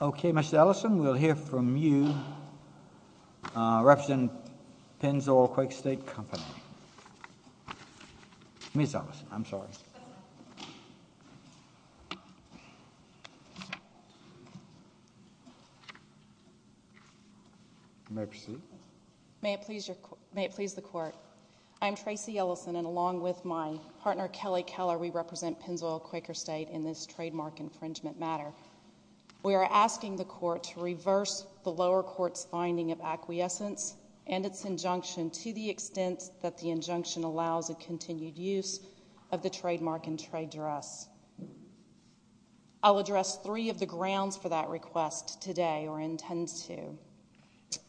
Okay, Mr. Ellison, we'll hear from you, representing Pinzoil-Quaker State Company. Ms. Ellison, I'm sorry. May I proceed? May it please the court. I'm Tracy Ellison, and along with my partner Kelly Keller, we represent Pinzoil-Quaker State in this trademark infringement matter. We are asking the court to reverse the lower court's finding of acquiescence and its injunction to the extent that the injunction allows a continued use of the trademark and trade dress. I'll address three of the grounds for that request today, or intend to.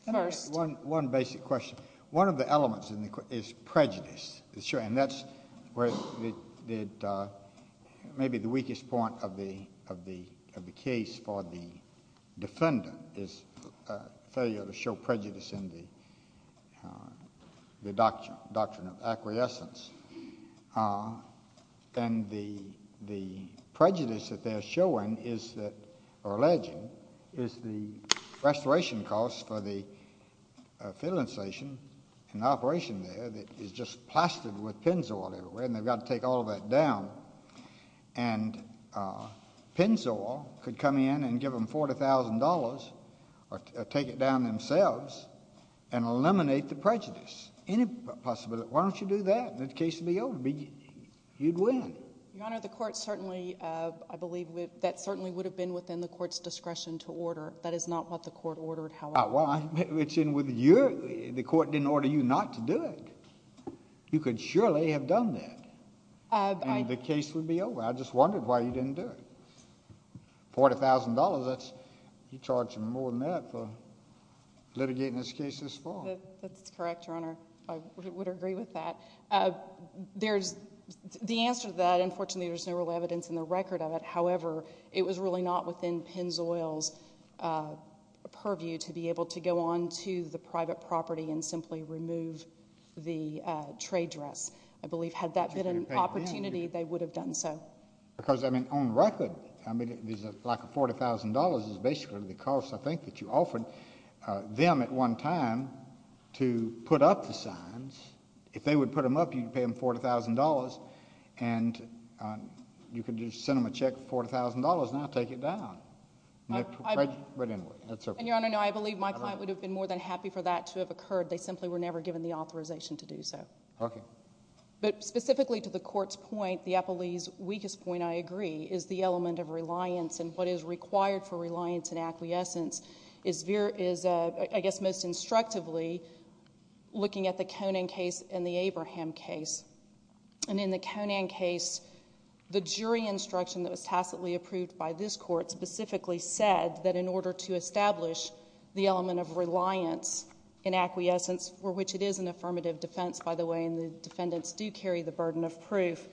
One basic question. One of the elements is prejudice, and that's maybe the weakest point of the case for the defendant, his failure to show prejudice in the doctrine of acquiescence. And the prejudice that they're showing is that, or alleging, is the restoration costs for the filling station and operation there that is just plastered with pinzoil everywhere, and they've got to take all of that down. And pinzoil could come in and give them $40,000 or take it down themselves and eliminate the prejudice. Any possibility. Why don't you do that? The case would be over. You'd win. Your Honor, the court certainly, I believe, that certainly would have been within the court's discretion to order. That is not what the court ordered, however. Well, it's in with you. The court didn't order you not to do it. You could surely have done that, and the case would be over. I just wondered why you didn't do it. $40,000, you're charging more than that for litigating this case this fall. That's correct, Your Honor. I would agree with that. The answer to that, unfortunately, there's no real evidence in the record of it. However, it was really not within pinzoil's purview to be able to go on to the private property and simply remove the trade dress. I believe had that been an opportunity, they would have done so. Because, I mean, on record, there's a lack of $40,000 is basically the cost, I think, that you offered them at one time to put up the signs. If they would put them up, you'd pay them $40,000, and you could just send them a check for $40,000 and now take it down. Right anyway. And, Your Honor, no, I believe my client would have been more than happy for that to have occurred. They simply were never given the authorization to do so. Okay. But specifically to the court's point, the appellee's weakest point, I agree, is the element of reliance and what is required for reliance and acquiescence is, I guess, most instructively looking at the Conan case and the Abraham case. And in the Conan case, the jury instruction that was tacitly approved by this court specifically said that in order to establish the element of reliance and acquiescence, for which it is an affirmative defense, by the way, and the defendants do carry the burden of proof,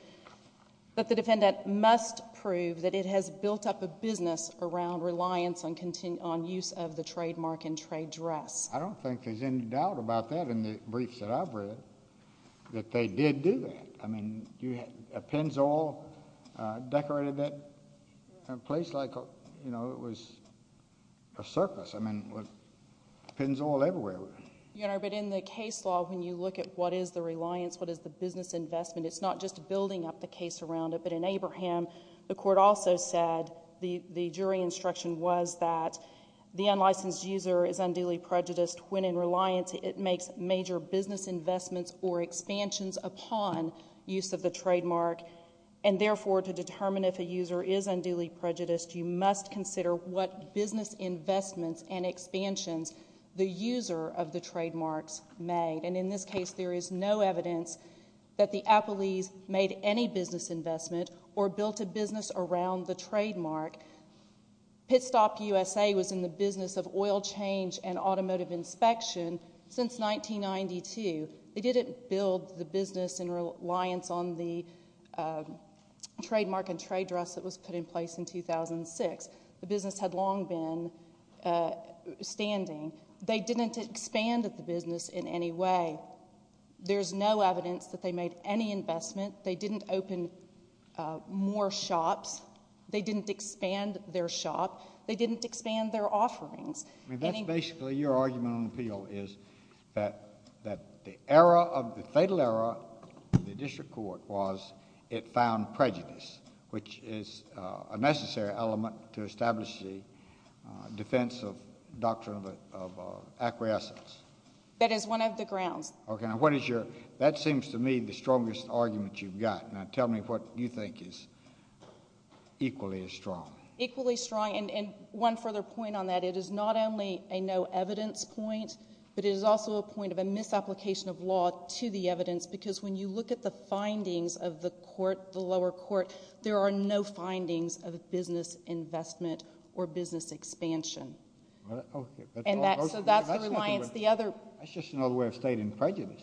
that the defendant must prove that it has built up a business around reliance on use of the trademark and trade dress. I don't think there's any doubt about that in the briefs that I've read, that they did do that. I mean, a Pennzoil decorated that place like it was a circus. I mean, Pennzoil everywhere. Your Honor, but in the case law, when you look at what is the reliance, what is the business investment, it's not just building up the case around it, but in Abraham, the court also said, the jury instruction was that the unlicensed user is unduly prejudiced when in reliance it makes major business investments or expansions upon use of the trademark. And therefore, to determine if a user is unduly prejudiced, you must consider what business investments and expansions the user of the trademarks made. And in this case, there is no evidence that the Appleys made any business investment or built a business around the trademark. Pit Stop USA was in the business of oil change and automotive inspection since 1992. They didn't build the business in reliance on the trademark and trade dress that was put in place in 2006. The business had long been standing. They didn't expand the business in any way. There's no evidence that they made any investment. They didn't open more shops. They didn't expand their shop. They didn't expand their offerings. I mean, that's basically your argument on appeal is that the fatal error of the district court was it found prejudice, which is a necessary element to establish the defense of doctrine of acquiescence. That is one of the grounds. Okay. That seems to me the strongest argument you've got. Now, tell me what you think is equally as strong. Equally strong. And one further point on that, it is not only a no evidence point, but it is also a point of a misapplication of law to the evidence because when you look at the findings of the court, the lower court, there are no findings of business investment or business expansion. So that's the reliance. That's just another way of stating prejudice.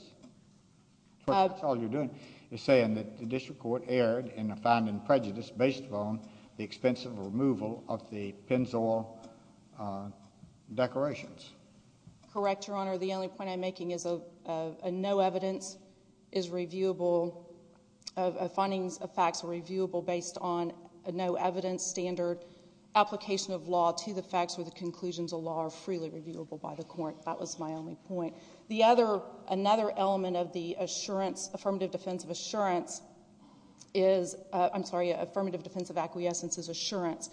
That's all you're doing is saying that the district court erred in a finding of prejudice based upon the expense of removal of the Pennzoil decorations. Correct, Your Honor. The only point I'm making is a no evidence is reviewable, findings of facts are reviewable based on a no evidence standard application of law to the facts where the conclusions of law are freely reviewable by the court. That was my only point. Another element of the affirmative defense of acquiescence is assurance.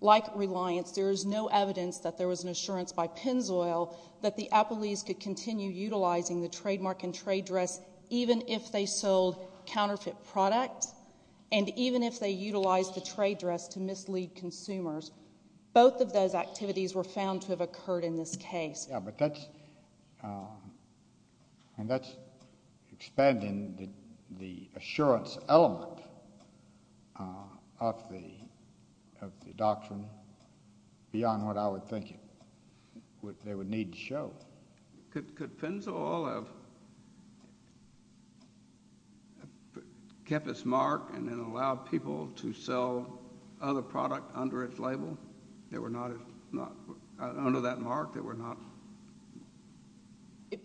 Like reliance, there is no evidence that there was an assurance by Pennzoil that the Appleys could continue utilizing the trademark and trade dress even if they sold counterfeit products and even if they utilized the trade dress to mislead consumers. Both of those activities were found to have occurred in this case. Yeah, but that's expanding the assurance element of the doctrine beyond what I would think they would need to show. Could Pennzoil have kept its mark and then allowed people to sell other product under its label? They were not, under that mark, they were not.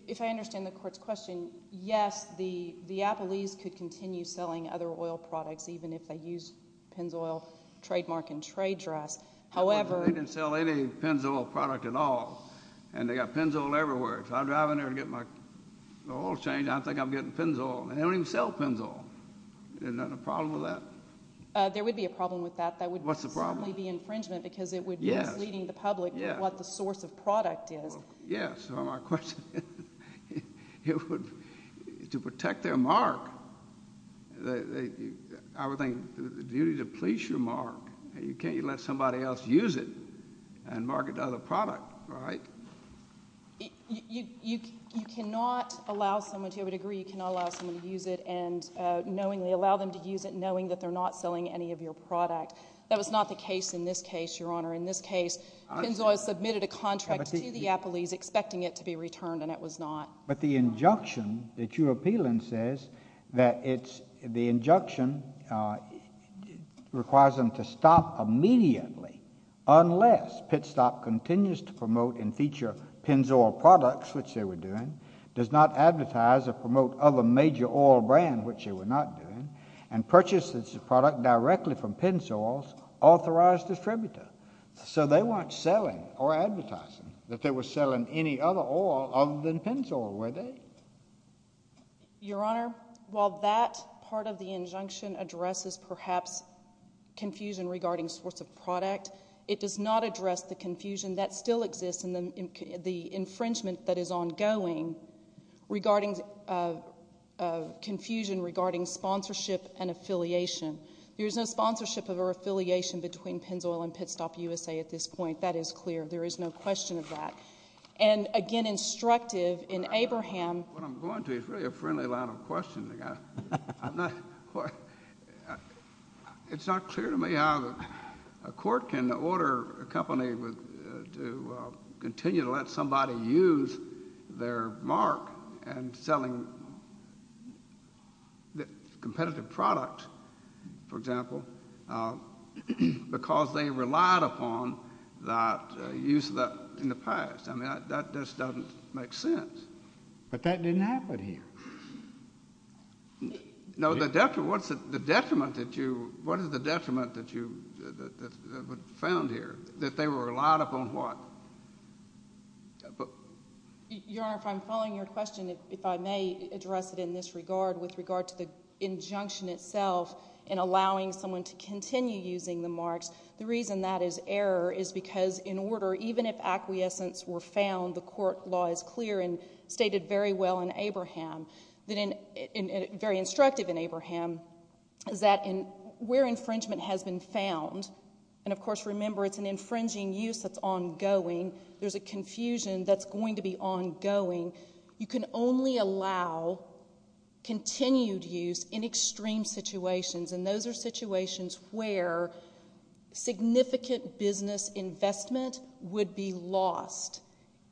If I understand the court's question, yes, the Appleys could continue selling other oil products even if they used Pennzoil trademark and trade dress. However, They didn't sell any Pennzoil product at all and they got Pennzoil everywhere. If I drive in there to get my oil change, I think I'm getting Pennzoil. They don't even sell Pennzoil. Isn't that a problem with that? There would be a problem with that. What's the problem? It would probably be infringement because it would be misleading the public what the source of product is. Yes, so my question is to protect their mark, I would think the duty to police your mark. You can't let somebody else use it and market the other product, right? You cannot allow someone to, I would agree you cannot allow someone to use it and knowingly allow them to use it knowing that they're not selling any of your product. That was not the case in this case, Your Honor. In this case, Pennzoil submitted a contract to the Appleys expecting it to be returned and it was not. But the injunction that you appeal in says that the injunction requires them to stop immediately unless Pitstop continues to promote and feature Pennzoil products, which they were doing, does not advertise or promote other major oil brands, which they were not doing, and purchases the product directly from Pennzoil's authorized distributor. So they weren't selling or advertising that they were selling any other oil other than Pennzoil, were they? Your Honor, while that part of the injunction addresses perhaps confusion regarding source of product, it does not address the confusion that still exists in the infringement that is ongoing regarding confusion regarding sponsorship and affiliation. There is no sponsorship or affiliation between Pennzoil and Pitstop USA at this point. That is clear. There is no question of that. And, again, instructive in Abraham. What I'm going to is really a friendly line of questioning. It's not clear to me how a court can order a company to continue to let somebody use their mark and selling a competitive product, for example, because they relied upon that use in the past. I mean, that just doesn't make sense. But that didn't happen here. No, the detriment that you found here, that they were relied upon what? Your Honor, if I'm following your question, if I may address it in this regard, with regard to the injunction itself in allowing someone to continue using the marks, the reason that is error is because in order, even if acquiescence were found, the court law is clear and stated very well in Abraham, very instructive in Abraham, is that where infringement has been found, and, of course, remember, it's an infringing use that's ongoing. There's a confusion that's going to be ongoing. You can only allow continued use in extreme situations, and those are situations where significant business investment would be lost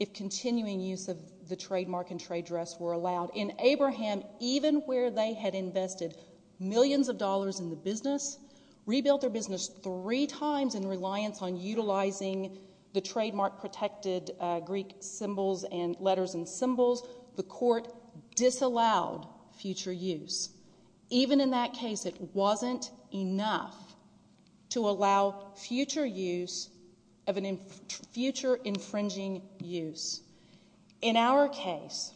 if continuing use of the trademark and trade dress were allowed. In Abraham, even where they had invested millions of dollars in the business, rebuilt their business three times in reliance on utilizing the trademark-protected Greek symbols and letters and symbols, the court disallowed future use. Even in that case, it wasn't enough to allow future use of a future infringing use. In our case,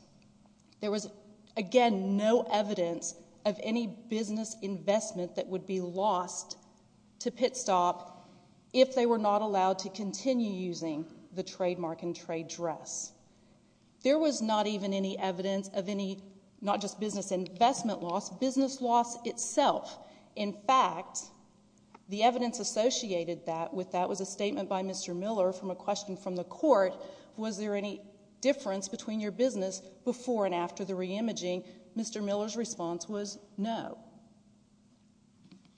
there was, again, no evidence of any business investment that would be lost to Pitstop if they were not allowed to continue using the trademark and trade dress. There was not even any evidence of any, not just business investment loss, business loss itself. In fact, the evidence associated with that was a statement by Mr. Miller from a question from the court, was there any difference between your business before and after the re-imaging? Mr. Miller's response was no.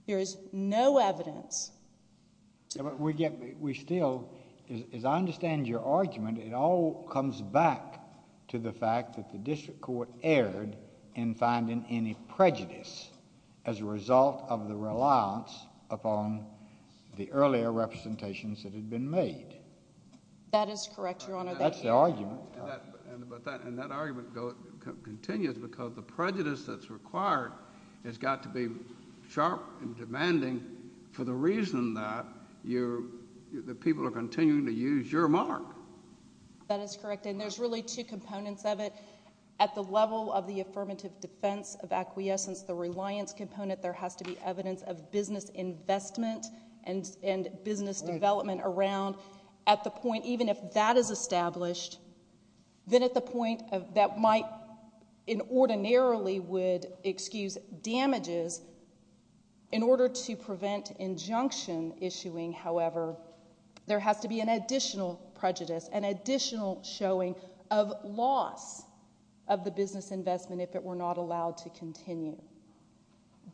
There is no evidence. We still, as I understand your argument, it all comes back to the fact that the district court erred in finding any prejudice as a result of the reliance upon the earlier representations that had been made. That is correct, Your Honor. That's the argument. And that argument continues because the prejudice that's required has got to be sharp and demanding for the reason that the people are continuing to use your mark. That is correct, and there's really two components of it. At the level of the affirmative defense of acquiescence, the reliance component, there has to be evidence of business investment and business development around at the point, In order to prevent injunction issuing, however, there has to be an additional prejudice, an additional showing of loss of the business investment if it were not allowed to continue.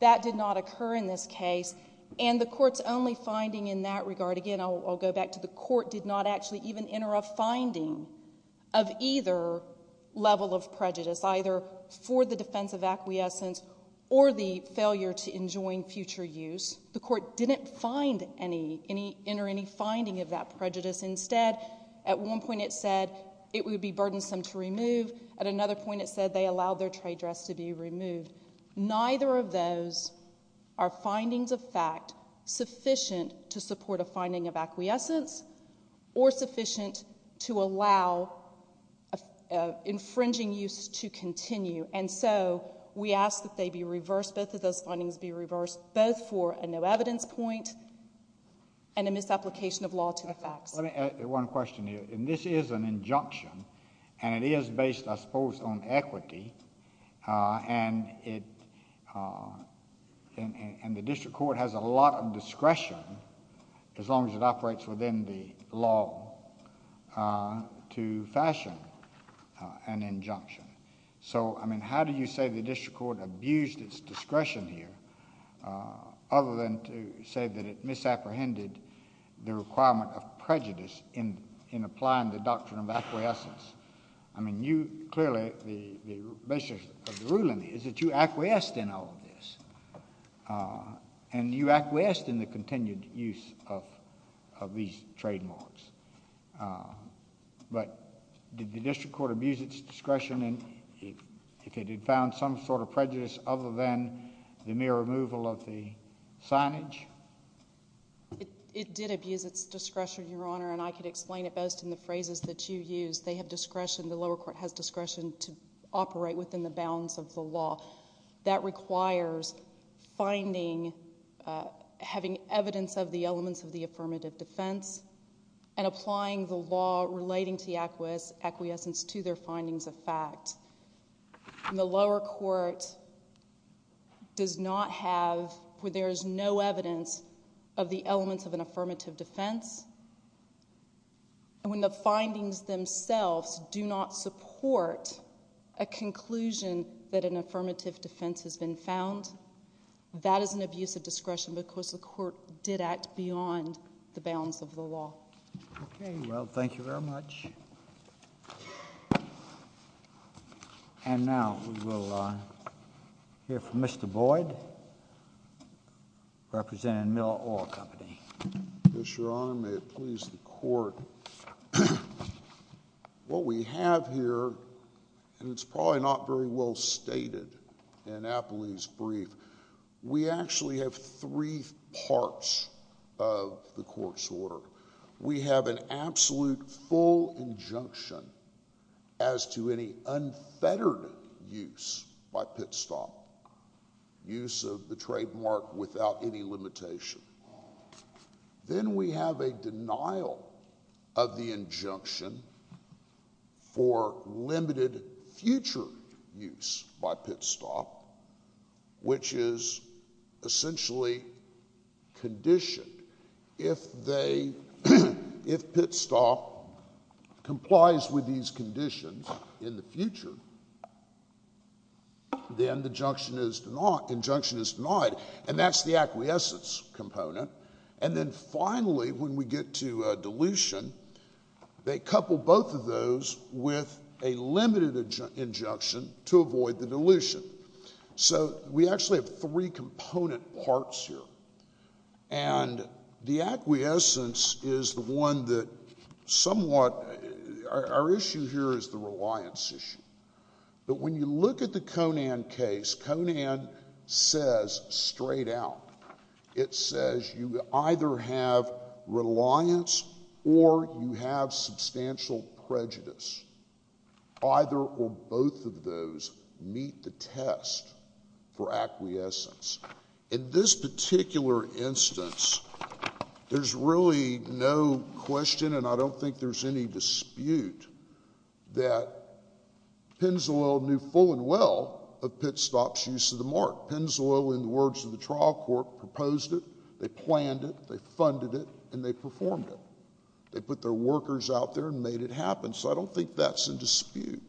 That did not occur in this case, and the court's only finding in that regard, again, I'll go back to the court did not actually even enter a finding of either level of prejudice, either for the defense of acquiescence or the failure to enjoin future use. The court didn't find any, enter any finding of that prejudice. Instead, at one point it said it would be burdensome to remove. At another point it said they allowed their trade dress to be removed. Neither of those are findings of fact sufficient to support a finding of acquiescence or sufficient to allow infringing use to continue, and so we ask that they be reversed, both of those findings be reversed, both for a no evidence point and a misapplication of law to the facts. Let me add one question here. This is an injunction, and it is based, I suppose, on equity, and the district court has a lot of discretion as long as it operates within the law to fashion an injunction. So, I mean, how do you say the district court abused its discretion here other than to say that it misapprehended the requirement of prejudice in applying the doctrine of acquiescence? I mean, you clearly, the basis of the ruling is that you acquiesced in all of this, and you acquiesced in the continued use of these trademarks. But did the district court abuse its discretion if it had found some sort of prejudice other than the mere removal of the signage? It did abuse its discretion, Your Honor, and I could explain it best in the phrases that you used. They have discretion. The lower court has discretion to operate within the bounds of the law. That requires finding, having evidence of the elements of the affirmative defense and applying the law relating to the acquiescence to their findings of fact. And the lower court does not have, where there is no evidence of the elements of an affirmative defense, and when the findings themselves do not support a conclusion that an affirmative defense has been found, that is an abuse of discretion because the court did act beyond the bounds of the law. Okay. Well, thank you very much. And now we will hear from Mr. Boyd, representing Miller Oil Company. Yes, Your Honor. May it please the court. What we have here, and it's probably not very well stated in Appley's brief, we actually have three parts of the court's order. We have an absolute full injunction as to any unfettered use by Pitstop, use of the trademark without any limitation. Then we have a denial of the injunction for limited future use by Pitstop, which is essentially conditioned. If Pitstop complies with these conditions in the future, then the injunction is denied, and that's the acquiescence component. And then finally, when we get to dilution, they couple both of those with a limited injunction to avoid the dilution. So we actually have three component parts here. And the acquiescence is the one that somewhat our issue here is the reliance issue. But when you look at the Conan case, Conan says straight out, it says you either have reliance or you have substantial prejudice. Either or both of those meet the test for acquiescence. In this particular instance, there's really no question, and I don't think there's any dispute, that Pennzoil knew full and well of Pitstop's use of the mark. Pennzoil, in the words of the trial court, proposed it, they planned it, they funded it, and they performed it. They put their workers out there and made it happen. So I don't think that's in dispute.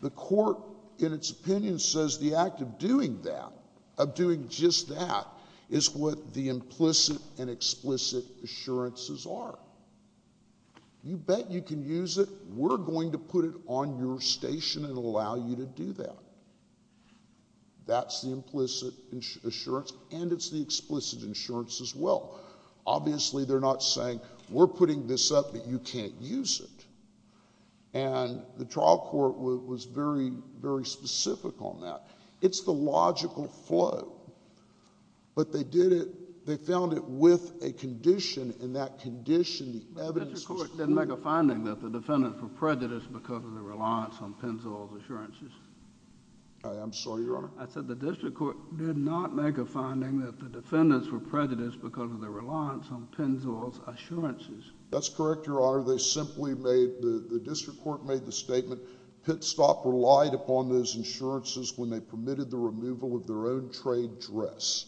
The court, in its opinion, says the act of doing that, of doing just that, is what the implicit and explicit assurances are. You bet you can use it. We're going to put it on your station and allow you to do that. That's the implicit assurance, and it's the explicit assurance as well. Obviously, they're not saying we're putting this up, but you can't use it. And the trial court was very, very specific on that. It's the logical flow. But they did it, they found it with a condition, and that condition, the evidence was clear. But the district court didn't make a finding that the defendants were prejudiced because of their reliance on Pennzoil's assurances. I'm sorry, Your Honor? I said the district court did not make a finding that the defendants were prejudiced because of their reliance on Pennzoil's assurances. That's correct, Your Honor. They simply made, the district court made the statement, Pitstop relied upon those insurances when they permitted the removal of their own trade dress.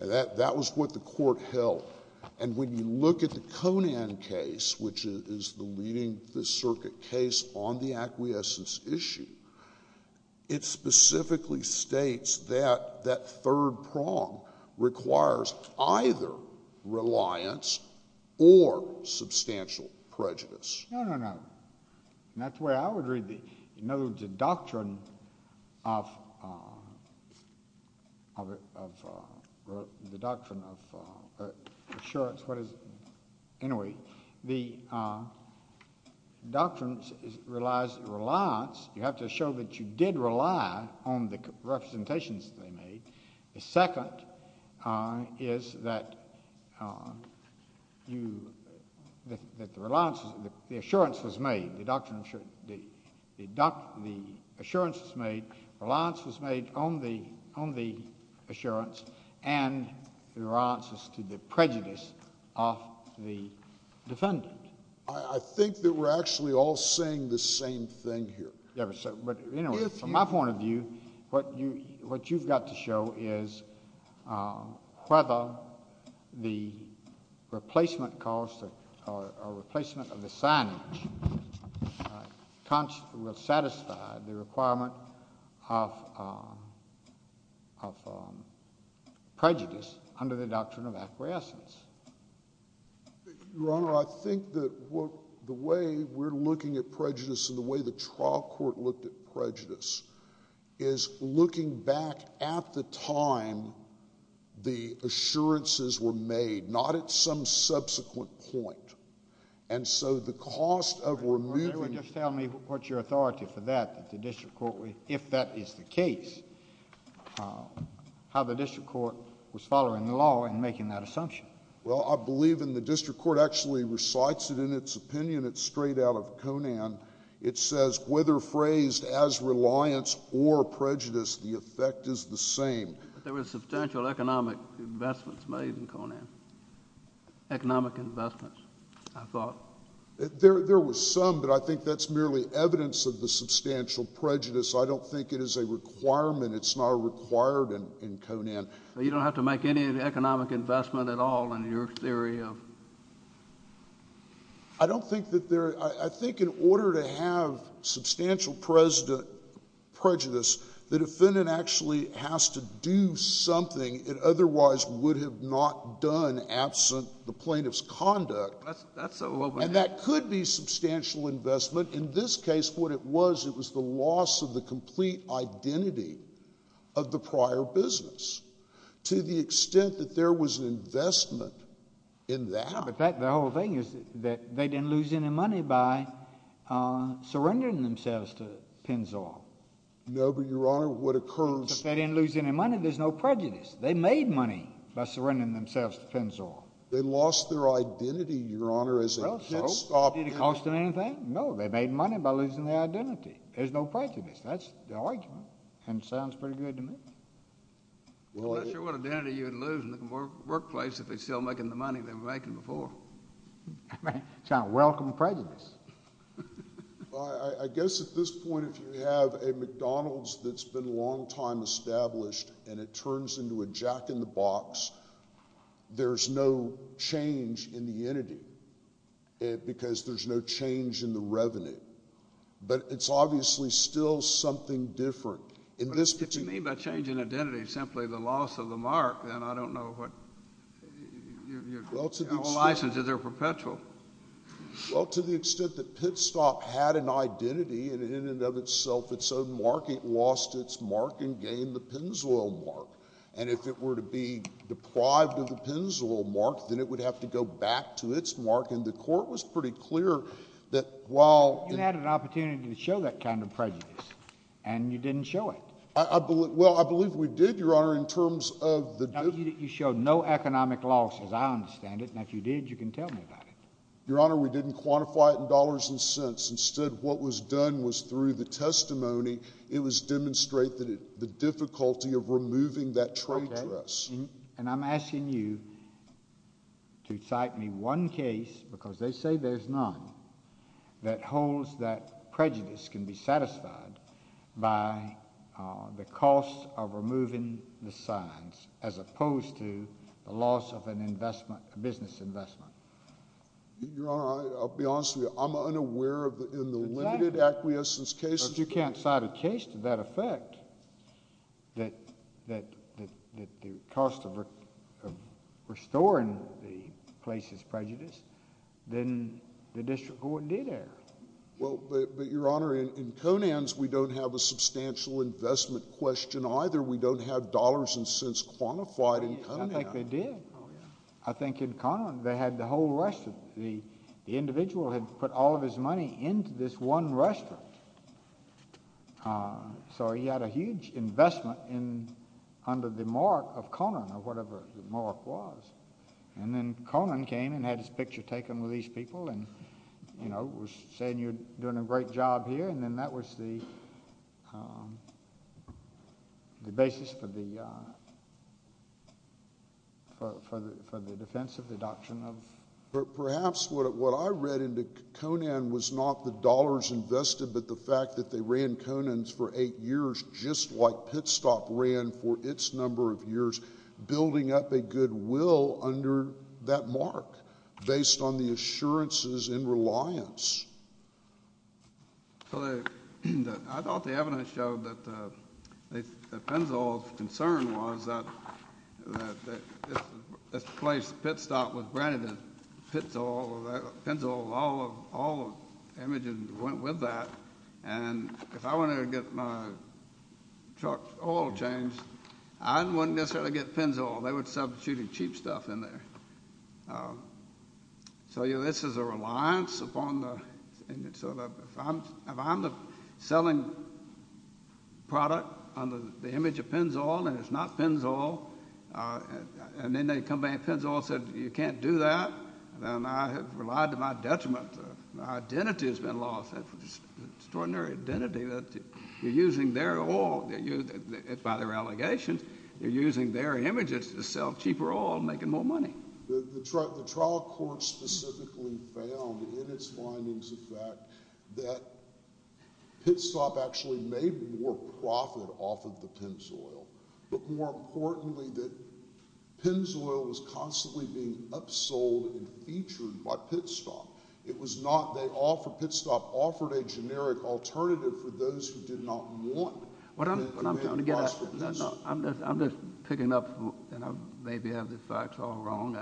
And that was what the court held. And when you look at the Conan case, which is the leading circuit case on the acquiescence issue, it specifically states that that third prong requires either reliance or substantial prejudice. No, no, no. And that's the way I would read the, in other words, the doctrine of assurance. Anyway, the doctrine relies on reliance. You have to show that you did rely on the representations that they made. The second is that you, that the reliance, the assurance was made, the doctrine of assurance, the assurance was made, reliance was made on the assurance, and the reliance was to the prejudice of the defendant. I think that we're actually all saying the same thing here. From my point of view, what you've got to show is whether the replacement cost or replacement of the signage will satisfy the requirement of prejudice under the doctrine of acquiescence. Your Honor, I think that the way we're looking at prejudice and the way the trial court looked at prejudice is looking back at the time the assurances were made, not at some subsequent point. And so the cost of removing They were just telling me what's your authority for that, that the district court, if that is the case, how the district court was following the law and making that assumption. Well, I believe in the district court actually recites it in its opinion. It's taken it straight out of Conan. It says, whether phrased as reliance or prejudice, the effect is the same. But there were substantial economic investments made in Conan. Economic investments, I thought. There were some, but I think that's merely evidence of the substantial prejudice. I don't think it is a requirement. It's not required in Conan. So you don't have to make any economic investment at all in your theory of I don't think that there I think in order to have substantial prejudice, the defendant actually has to do something it otherwise would have not done absent the plaintiff's conduct. And that could be substantial investment. In this case, what it was, it was the loss of the complete identity of the prior business. To the extent that there was an investment in that. No, but the whole thing is that they didn't lose any money by surrendering themselves to Pennzoil. No, but, Your Honor, what occurs If they didn't lose any money, there's no prejudice. They made money by surrendering themselves to Pennzoil. They lost their identity, Your Honor, as a kid. Did it cost them anything? No, they made money by losing their identity. There's no prejudice. That's the argument. And it sounds pretty good to me. I'm not sure what identity you would lose in the workplace if they're still making the money they were making before. It's not a welcome prejudice. I guess at this point, if you have a McDonald's that's been a long time established and it turns into a jack-in-the-box, there's no change in the entity. Because there's no change in the revenue. But it's obviously still something different. If you mean by change in identity simply the loss of the mark, then I don't know what your license, is there perpetual? Well, to the extent that Pitstop had an identity and in and of itself its own mark, it lost its mark and gained the Pennzoil mark. And if it were to be deprived of the Pennzoil mark, then it would have to go back to its mark. And the court was pretty clear that while— You had an opportunity to show that kind of prejudice. And you didn't show it. Well, I believe we did, Your Honor, in terms of the— You showed no economic loss, as I understand it. And if you did, you can tell me about it. Your Honor, we didn't quantify it in dollars and cents. Instead, what was done was through the testimony, it was demonstrated the difficulty of removing that trade dress. And I'm asking you to cite me one case, because they say there's none, that holds that prejudice can be satisfied by the cost of removing the signs as opposed to the loss of an investment, a business investment. Your Honor, I'll be honest with you. I'm unaware in the limited acquiescence cases— restoring the place's prejudice, then the district court did err. Well, but, Your Honor, in Conant's, we don't have a substantial investment question either. We don't have dollars and cents quantified in Conant. I think they did. I think in Conant, they had the whole restaurant. The individual had put all of his money into this one restaurant. So he had a huge investment under the mark of Conant or whatever the mark was. And then Conant came and had his picture taken with these people and, you know, was saying you're doing a great job here. And then that was the basis for the defense of the doctrine of— Perhaps what I read into Conant was not the dollars invested, but the fact that they ran Conant for eight years just like Pitstop ran for its number of years, building up a goodwill under that mark based on the assurances in reliance. So I thought the evidence showed that the Pennzoil's concern was that this place, Pitstop, was branded as Pennzoil. All the images went with that. And if I wanted to get my truck oil changed, I wouldn't necessarily get Pennzoil. They would substitute cheap stuff in there. So, you know, this is a reliance upon the— So if I'm the selling product under the image of Pennzoil and it's not Pennzoil, and then they come back and Pennzoil said you can't do that, then I have relied to my detriment. My identity has been lost. It's an extraordinary identity that you're using their oil. By their allegations, you're using their images to sell cheaper oil and making more money. The trial court specifically found in its findings, in fact, that Pitstop actually made more profit off of the Pennzoil, but more importantly that Pennzoil was constantly being upsold and featured by Pitstop. It was not—they offered—Pitstop offered a generic alternative for those who did not want— I'm just picking up—and maybe I have the facts all wrong.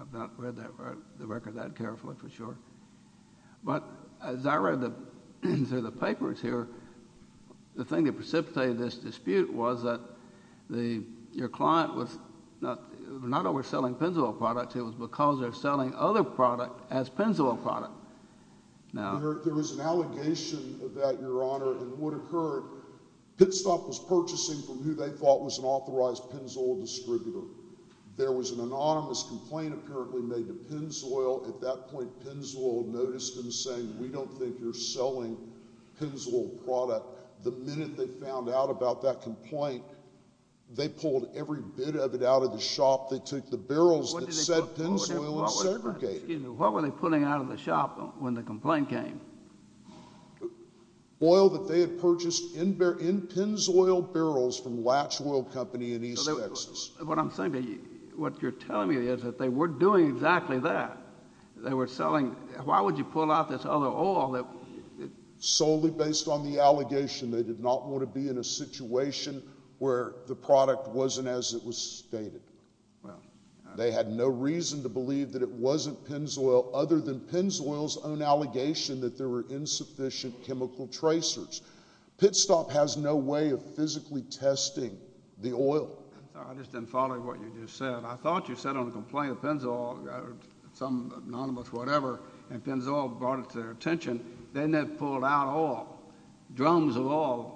I've not read the record that carefully for sure. But as I read through the papers here, the thing that precipitated this dispute was that your client was not overselling Pennzoil products. It was because they're selling other products as Pennzoil products. There was an allegation that, Your Honor, in what occurred, Pitstop was purchasing from who they thought was an authorized Pennzoil distributor. There was an anonymous complaint apparently made to Pennzoil. At that point, Pennzoil noticed them saying we don't think you're selling Pennzoil product. The minute they found out about that complaint, they pulled every bit of it out of the shop. Excuse me. What were they pulling out of the shop when the complaint came? Oil that they had purchased in Pennzoil barrels from Latch Oil Company in East Texas. What I'm saying to you—what you're telling me is that they were doing exactly that. They were selling—why would you pull out this other oil that— Solely based on the allegation they did not want to be in a situation where the product wasn't as it was stated. They had no reason to believe that it wasn't Pennzoil other than Pennzoil's own allegation that there were insufficient chemical tracers. Pitstop has no way of physically testing the oil. I just didn't follow what you just said. I thought you said on a complaint of Pennzoil, some anonymous whatever, and Pennzoil brought it to their attention. Then they pulled out oil, drums of oil.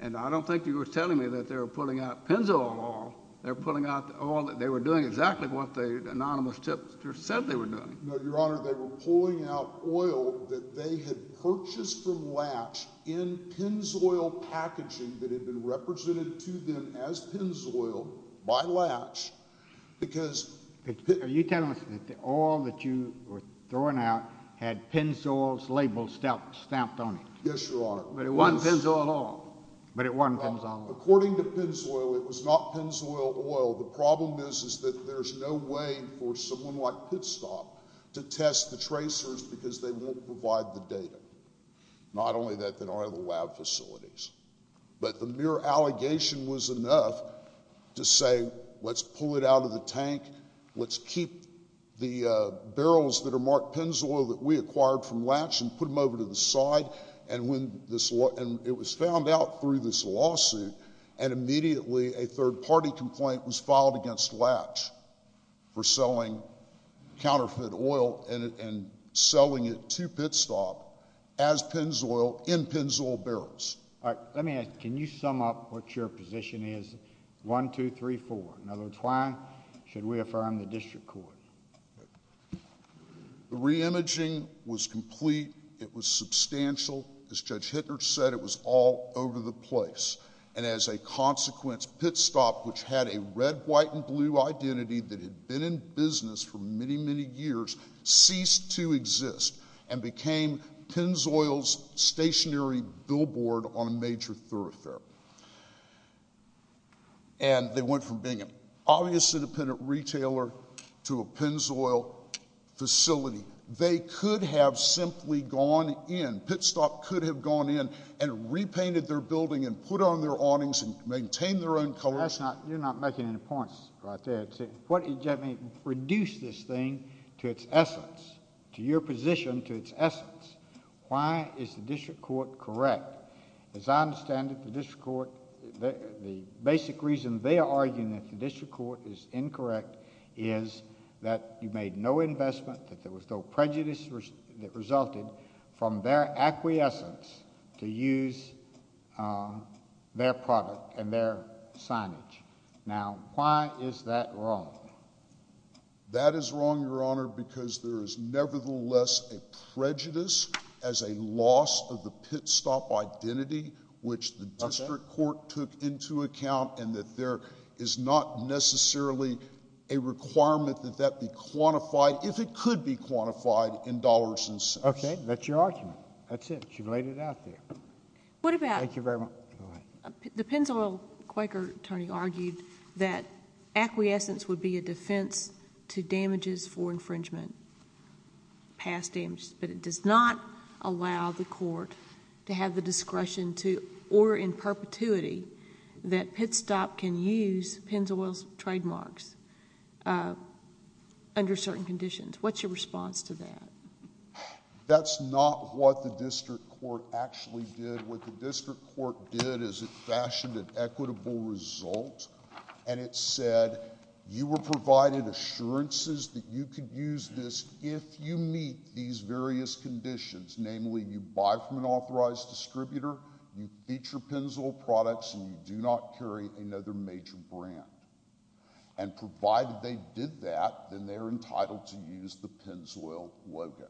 And I don't think you were telling me that they were pulling out Pennzoil oil. They were pulling out the oil—they were doing exactly what the anonymous tipster said they were doing. No, Your Honor, they were pulling out oil that they had purchased from Latch in Pennzoil packaging that had been represented to them as Pennzoil by Latch because— Are you telling me that the oil that you were throwing out had Pennzoil's label stamped on it? Yes, Your Honor. But it wasn't Pennzoil oil. But it wasn't Pennzoil oil. According to Pennzoil, it was not Pennzoil oil. The problem is that there's no way for someone like Pitstop to test the tracers because they won't provide the data. Not only that, there are no lab facilities. But the mere allegation was enough to say, let's pull it out of the tank. Let's keep the barrels that are marked Pennzoil that we acquired from Latch and put them over to the side. And it was found out through this lawsuit, and immediately a third-party complaint was filed against Latch for selling counterfeit oil and selling it to Pitstop as Pennzoil in Pennzoil barrels. All right, let me ask, can you sum up what your position is? One, two, three, four. In other words, why should we affirm the district court? The re-imaging was complete. It was substantial. As Judge Hittner said, it was all over the place. And as a consequence, Pitstop, which had a red, white, and blue identity that had been in business for many, many years, ceased to exist and became Pennzoil's stationary billboard on a major thoroughfare. And they went from being an obviously independent retailer to a Pennzoil facility. They could have simply gone in. Pitstop could have gone in and repainted their building and put on their awnings and maintained their own colors. You're not making any points right there. Let me reduce this thing to its essence, to your position, to its essence. Why is the district court correct? As I understand it, the district court—the basic reason they are arguing that the district court is incorrect is that you made no investment, that there was no prejudice that resulted from their acquiescence to use their product and their signage. Now, why is that wrong? That is wrong, Your Honor, because there is nevertheless a prejudice as a loss of the Pitstop identity, which the district court took into account, and that there is not necessarily a requirement that that be quantified, if it could be quantified, in dollars and cents. Okay. That's your argument. That's it. You've laid it out there. Thank you very much. The Pennzoil Quaker attorney argued that acquiescence would be a defense to damages for infringement, past damages, but it does not allow the court to have the discretion to, or in perpetuity, that Pitstop can use Pennzoil's trademarks under certain conditions. What's your response to that? That's not what the district court actually did. What the district court did is it fashioned an equitable result, and it said, you were provided assurances that you could use this if you meet these various conditions, namely, you buy from an authorized distributor, you feature Pennzoil products, and you do not carry another major brand. And provided they did that, then they're entitled to use the Pennzoil logo,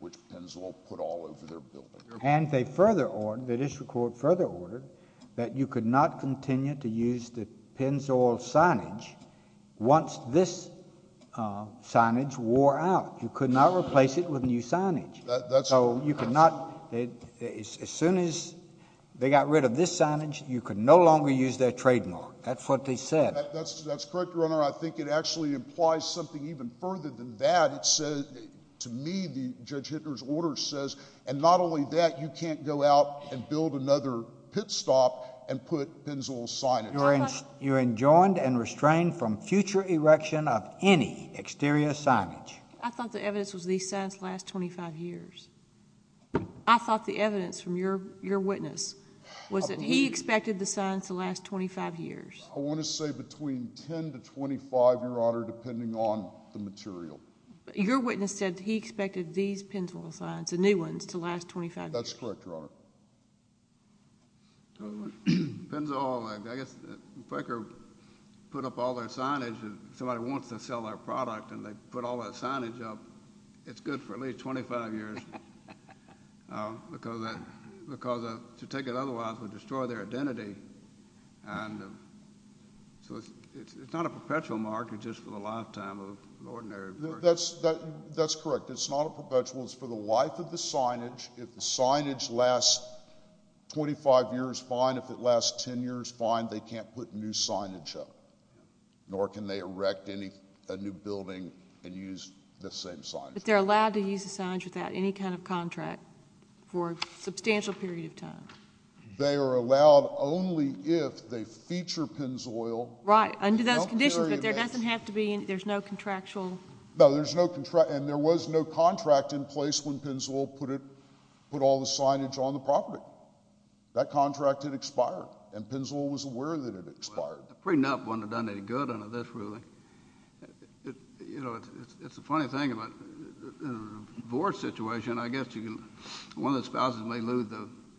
which Pennzoil put all over their building. And they further ordered, the district court further ordered, that you could not continue to use the Pennzoil signage once this signage wore out. You could not replace it with new signage. That's right. So you could not, as soon as they got rid of this signage, you could no longer use their trademark. That's what they said. That's correct, Your Honor. I think it actually implies something even further than that. It says, to me, Judge Hittner's order says, and not only that, you can't go out and build another Pitstop and put Pennzoil signage. You're enjoined and restrained from future erection of any exterior signage. I thought the evidence was these signs last 25 years. I thought the evidence from your witness was that he expected the signs to last 25 years. I want to say between 10 to 25, Your Honor, depending on the material. Your witness said he expected these Pennzoil signs, the new ones, to last 25 years. That's correct, Your Honor. Pennzoil. I guess if Quaker put up all their signage, if somebody wants to sell their product and they put all their signage up, it's good for at least 25 years. Because to take it otherwise would destroy their identity. And so it's not a perpetual mark. It's just for the lifetime of an ordinary person. That's correct. It's not a perpetual. It's for the life of the signage. If the signage lasts 25 years, fine. If it lasts 10 years, fine. They can't put new signage up. Nor can they erect a new building and use the same signage. But they're allowed to use the signage without any kind of contract for a substantial period of time. They are allowed only if they feature Pennzoil. Right. Under those conditions. But there doesn't have to be. There's no contractual. No, there's no contract. And there was no contract in place when Pennzoil put all the signage on the property. That contract had expired. And Pennzoil was aware that it had expired. A prenup wouldn't have done any good under this ruling. You know, it's a funny thing about a divorce situation. I guess one of the spouses may lose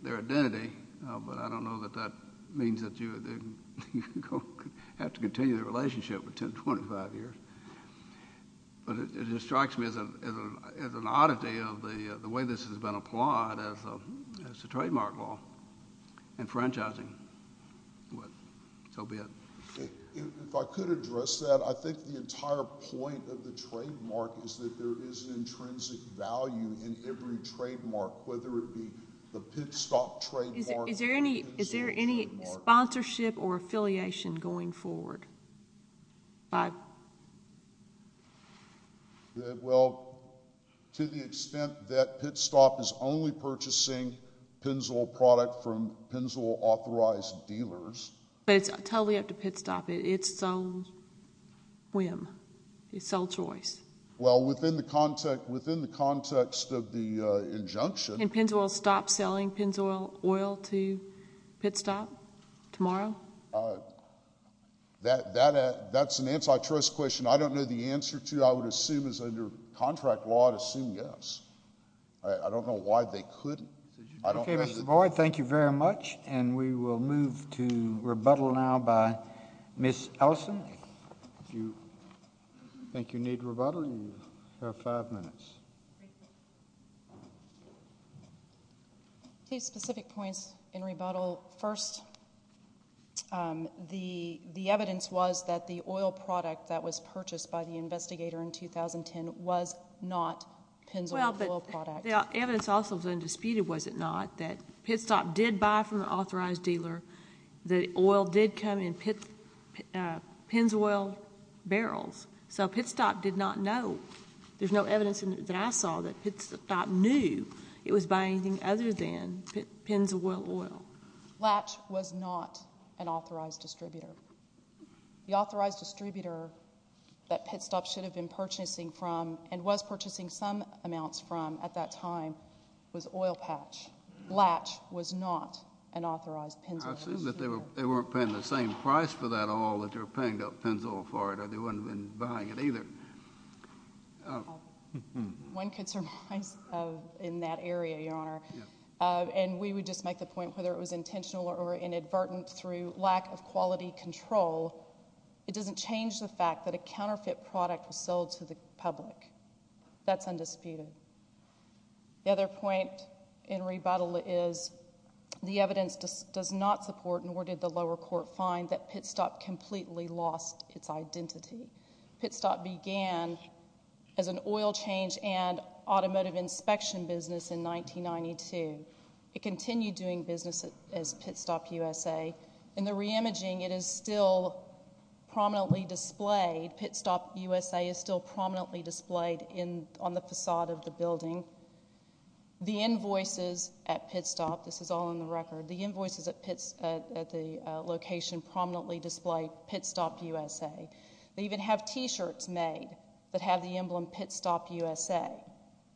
their identity, but I don't know that that means that you have to continue the relationship for 10, 25 years. But it strikes me as an oddity of the way this has been applied as a trademark law. And franchising. So be it. If I could address that. I think the entire point of the trademark is that there is an intrinsic value in every trademark, whether it be the Pit Stop trademark. Is there any sponsorship or affiliation going forward? Well, to the extent that Pit Stop is only purchasing Pennzoil product from Pennzoil authorized dealers. But it's totally up to Pit Stop. It's sole whim. It's sole choice. Well, within the context of the injunction. Can Pennzoil stop selling Pennzoil oil to Pit Stop tomorrow? That's an antitrust question. I don't know the answer to. I would assume as under contract law, I'd assume yes. I don't know why they couldn't. Okay, Mr. Boyd. Thank you very much. And we will move to rebuttal now by Ms. Ellison. If you think you need rebuttal, you have five minutes. Two specific points in rebuttal. First, the evidence was that the oil product that was purchased by the investigator in 2010 was not Pennzoil oil product. The evidence also was undisputed, was it not, that Pit Stop did buy from an authorized dealer. The oil did come in Pennzoil barrels. So Pit Stop did not know. There's no evidence that I saw that Pit Stop knew it was buying anything other than Pennzoil oil. Latch was not an authorized distributor. The authorized distributor that Pit Stop should have been purchasing from and was purchasing some amounts from at that time was Oil Patch. Latch was not an authorized Pennzoil distributor. I assume that they weren't paying the same price for that oil that they were paying up Pennzoil for it or they wouldn't have been buying it either. One could surmise in that area, Your Honor, and we would just make the point whether it was intentional or inadvertent through lack of quality control, it doesn't change the fact that a counterfeit product was sold to the public. That's undisputed. The other point in rebuttal is the evidence does not support nor did the lower court find that Pit Stop completely lost its identity. Pit Stop began as an oil change and automotive inspection business in 1992. It continued doing business as Pit Stop USA. In the re-imaging, it is still prominently displayed. Pit Stop USA is still prominently displayed on the facade of the building. The invoices at Pit Stop, this is all in the record, the invoices at the location prominently display Pit Stop USA. They even have T-shirts made that have the emblem Pit Stop USA.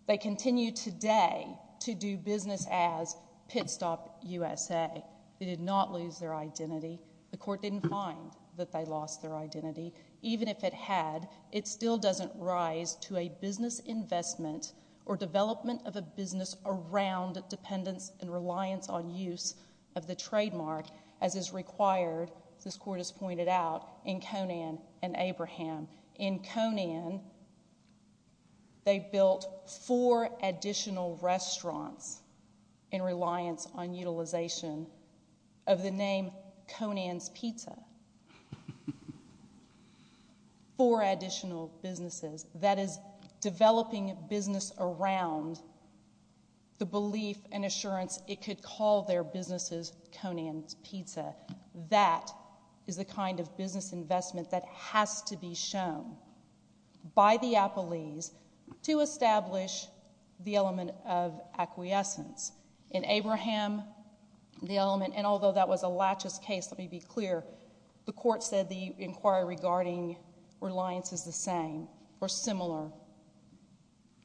They continue today to do business as Pit Stop USA. They did not lose their identity. The court didn't find that they lost their identity. Even if it had, it still doesn't rise to a business investment or development of a business around dependence and reliance on use of the trademark as is required, as this court has pointed out, in Conan and Abraham. In Conan, they built four additional restaurants in reliance on utilization of the name Conan's Pizza, four additional businesses. That is developing business around the belief and assurance it could call their businesses Conan's Pizza. That is the kind of business investment that has to be shown by the appellees to establish the element of acquiescence. In Abraham, the element, and although that was a laches case, let me be clear, the court said the inquiry regarding reliance is the same or similar.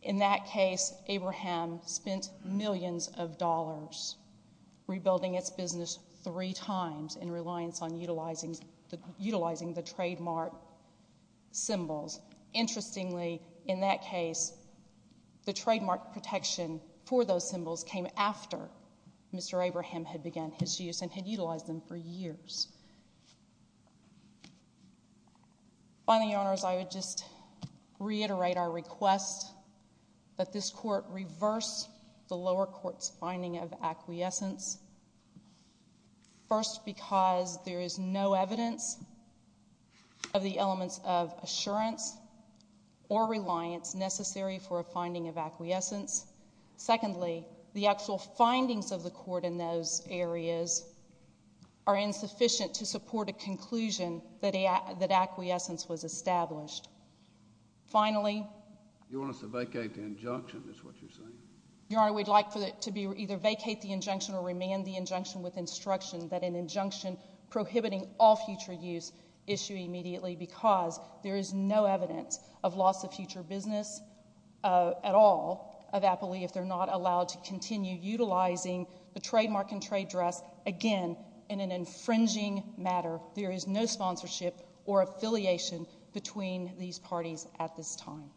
In that case, Abraham spent millions of dollars rebuilding its business three times in reliance on utilizing the trademark symbols. Interestingly, in that case, the trademark protection for those symbols came after Mr. Abraham had begun his use and had utilized them for years. Finally, Your Honors, I would just reiterate our request that this court reverse the lower court's finding of acquiescence. First, because there is no evidence of the elements of assurance or reliance necessary for a finding of acquiescence. Secondly, the actual findings of the court in those areas are insufficient to support a conclusion that acquiescence was established. Finally, Your Honor, we'd like to either vacate the injunction or remand the injunction with instruction that an injunction prohibiting all future use issue immediately because there is no evidence of loss of future business at all of appellee if they're not allowed to continue utilizing the trademark and trade dress again in an infringing matter. There is no sponsorship or affiliation between these parties at this time.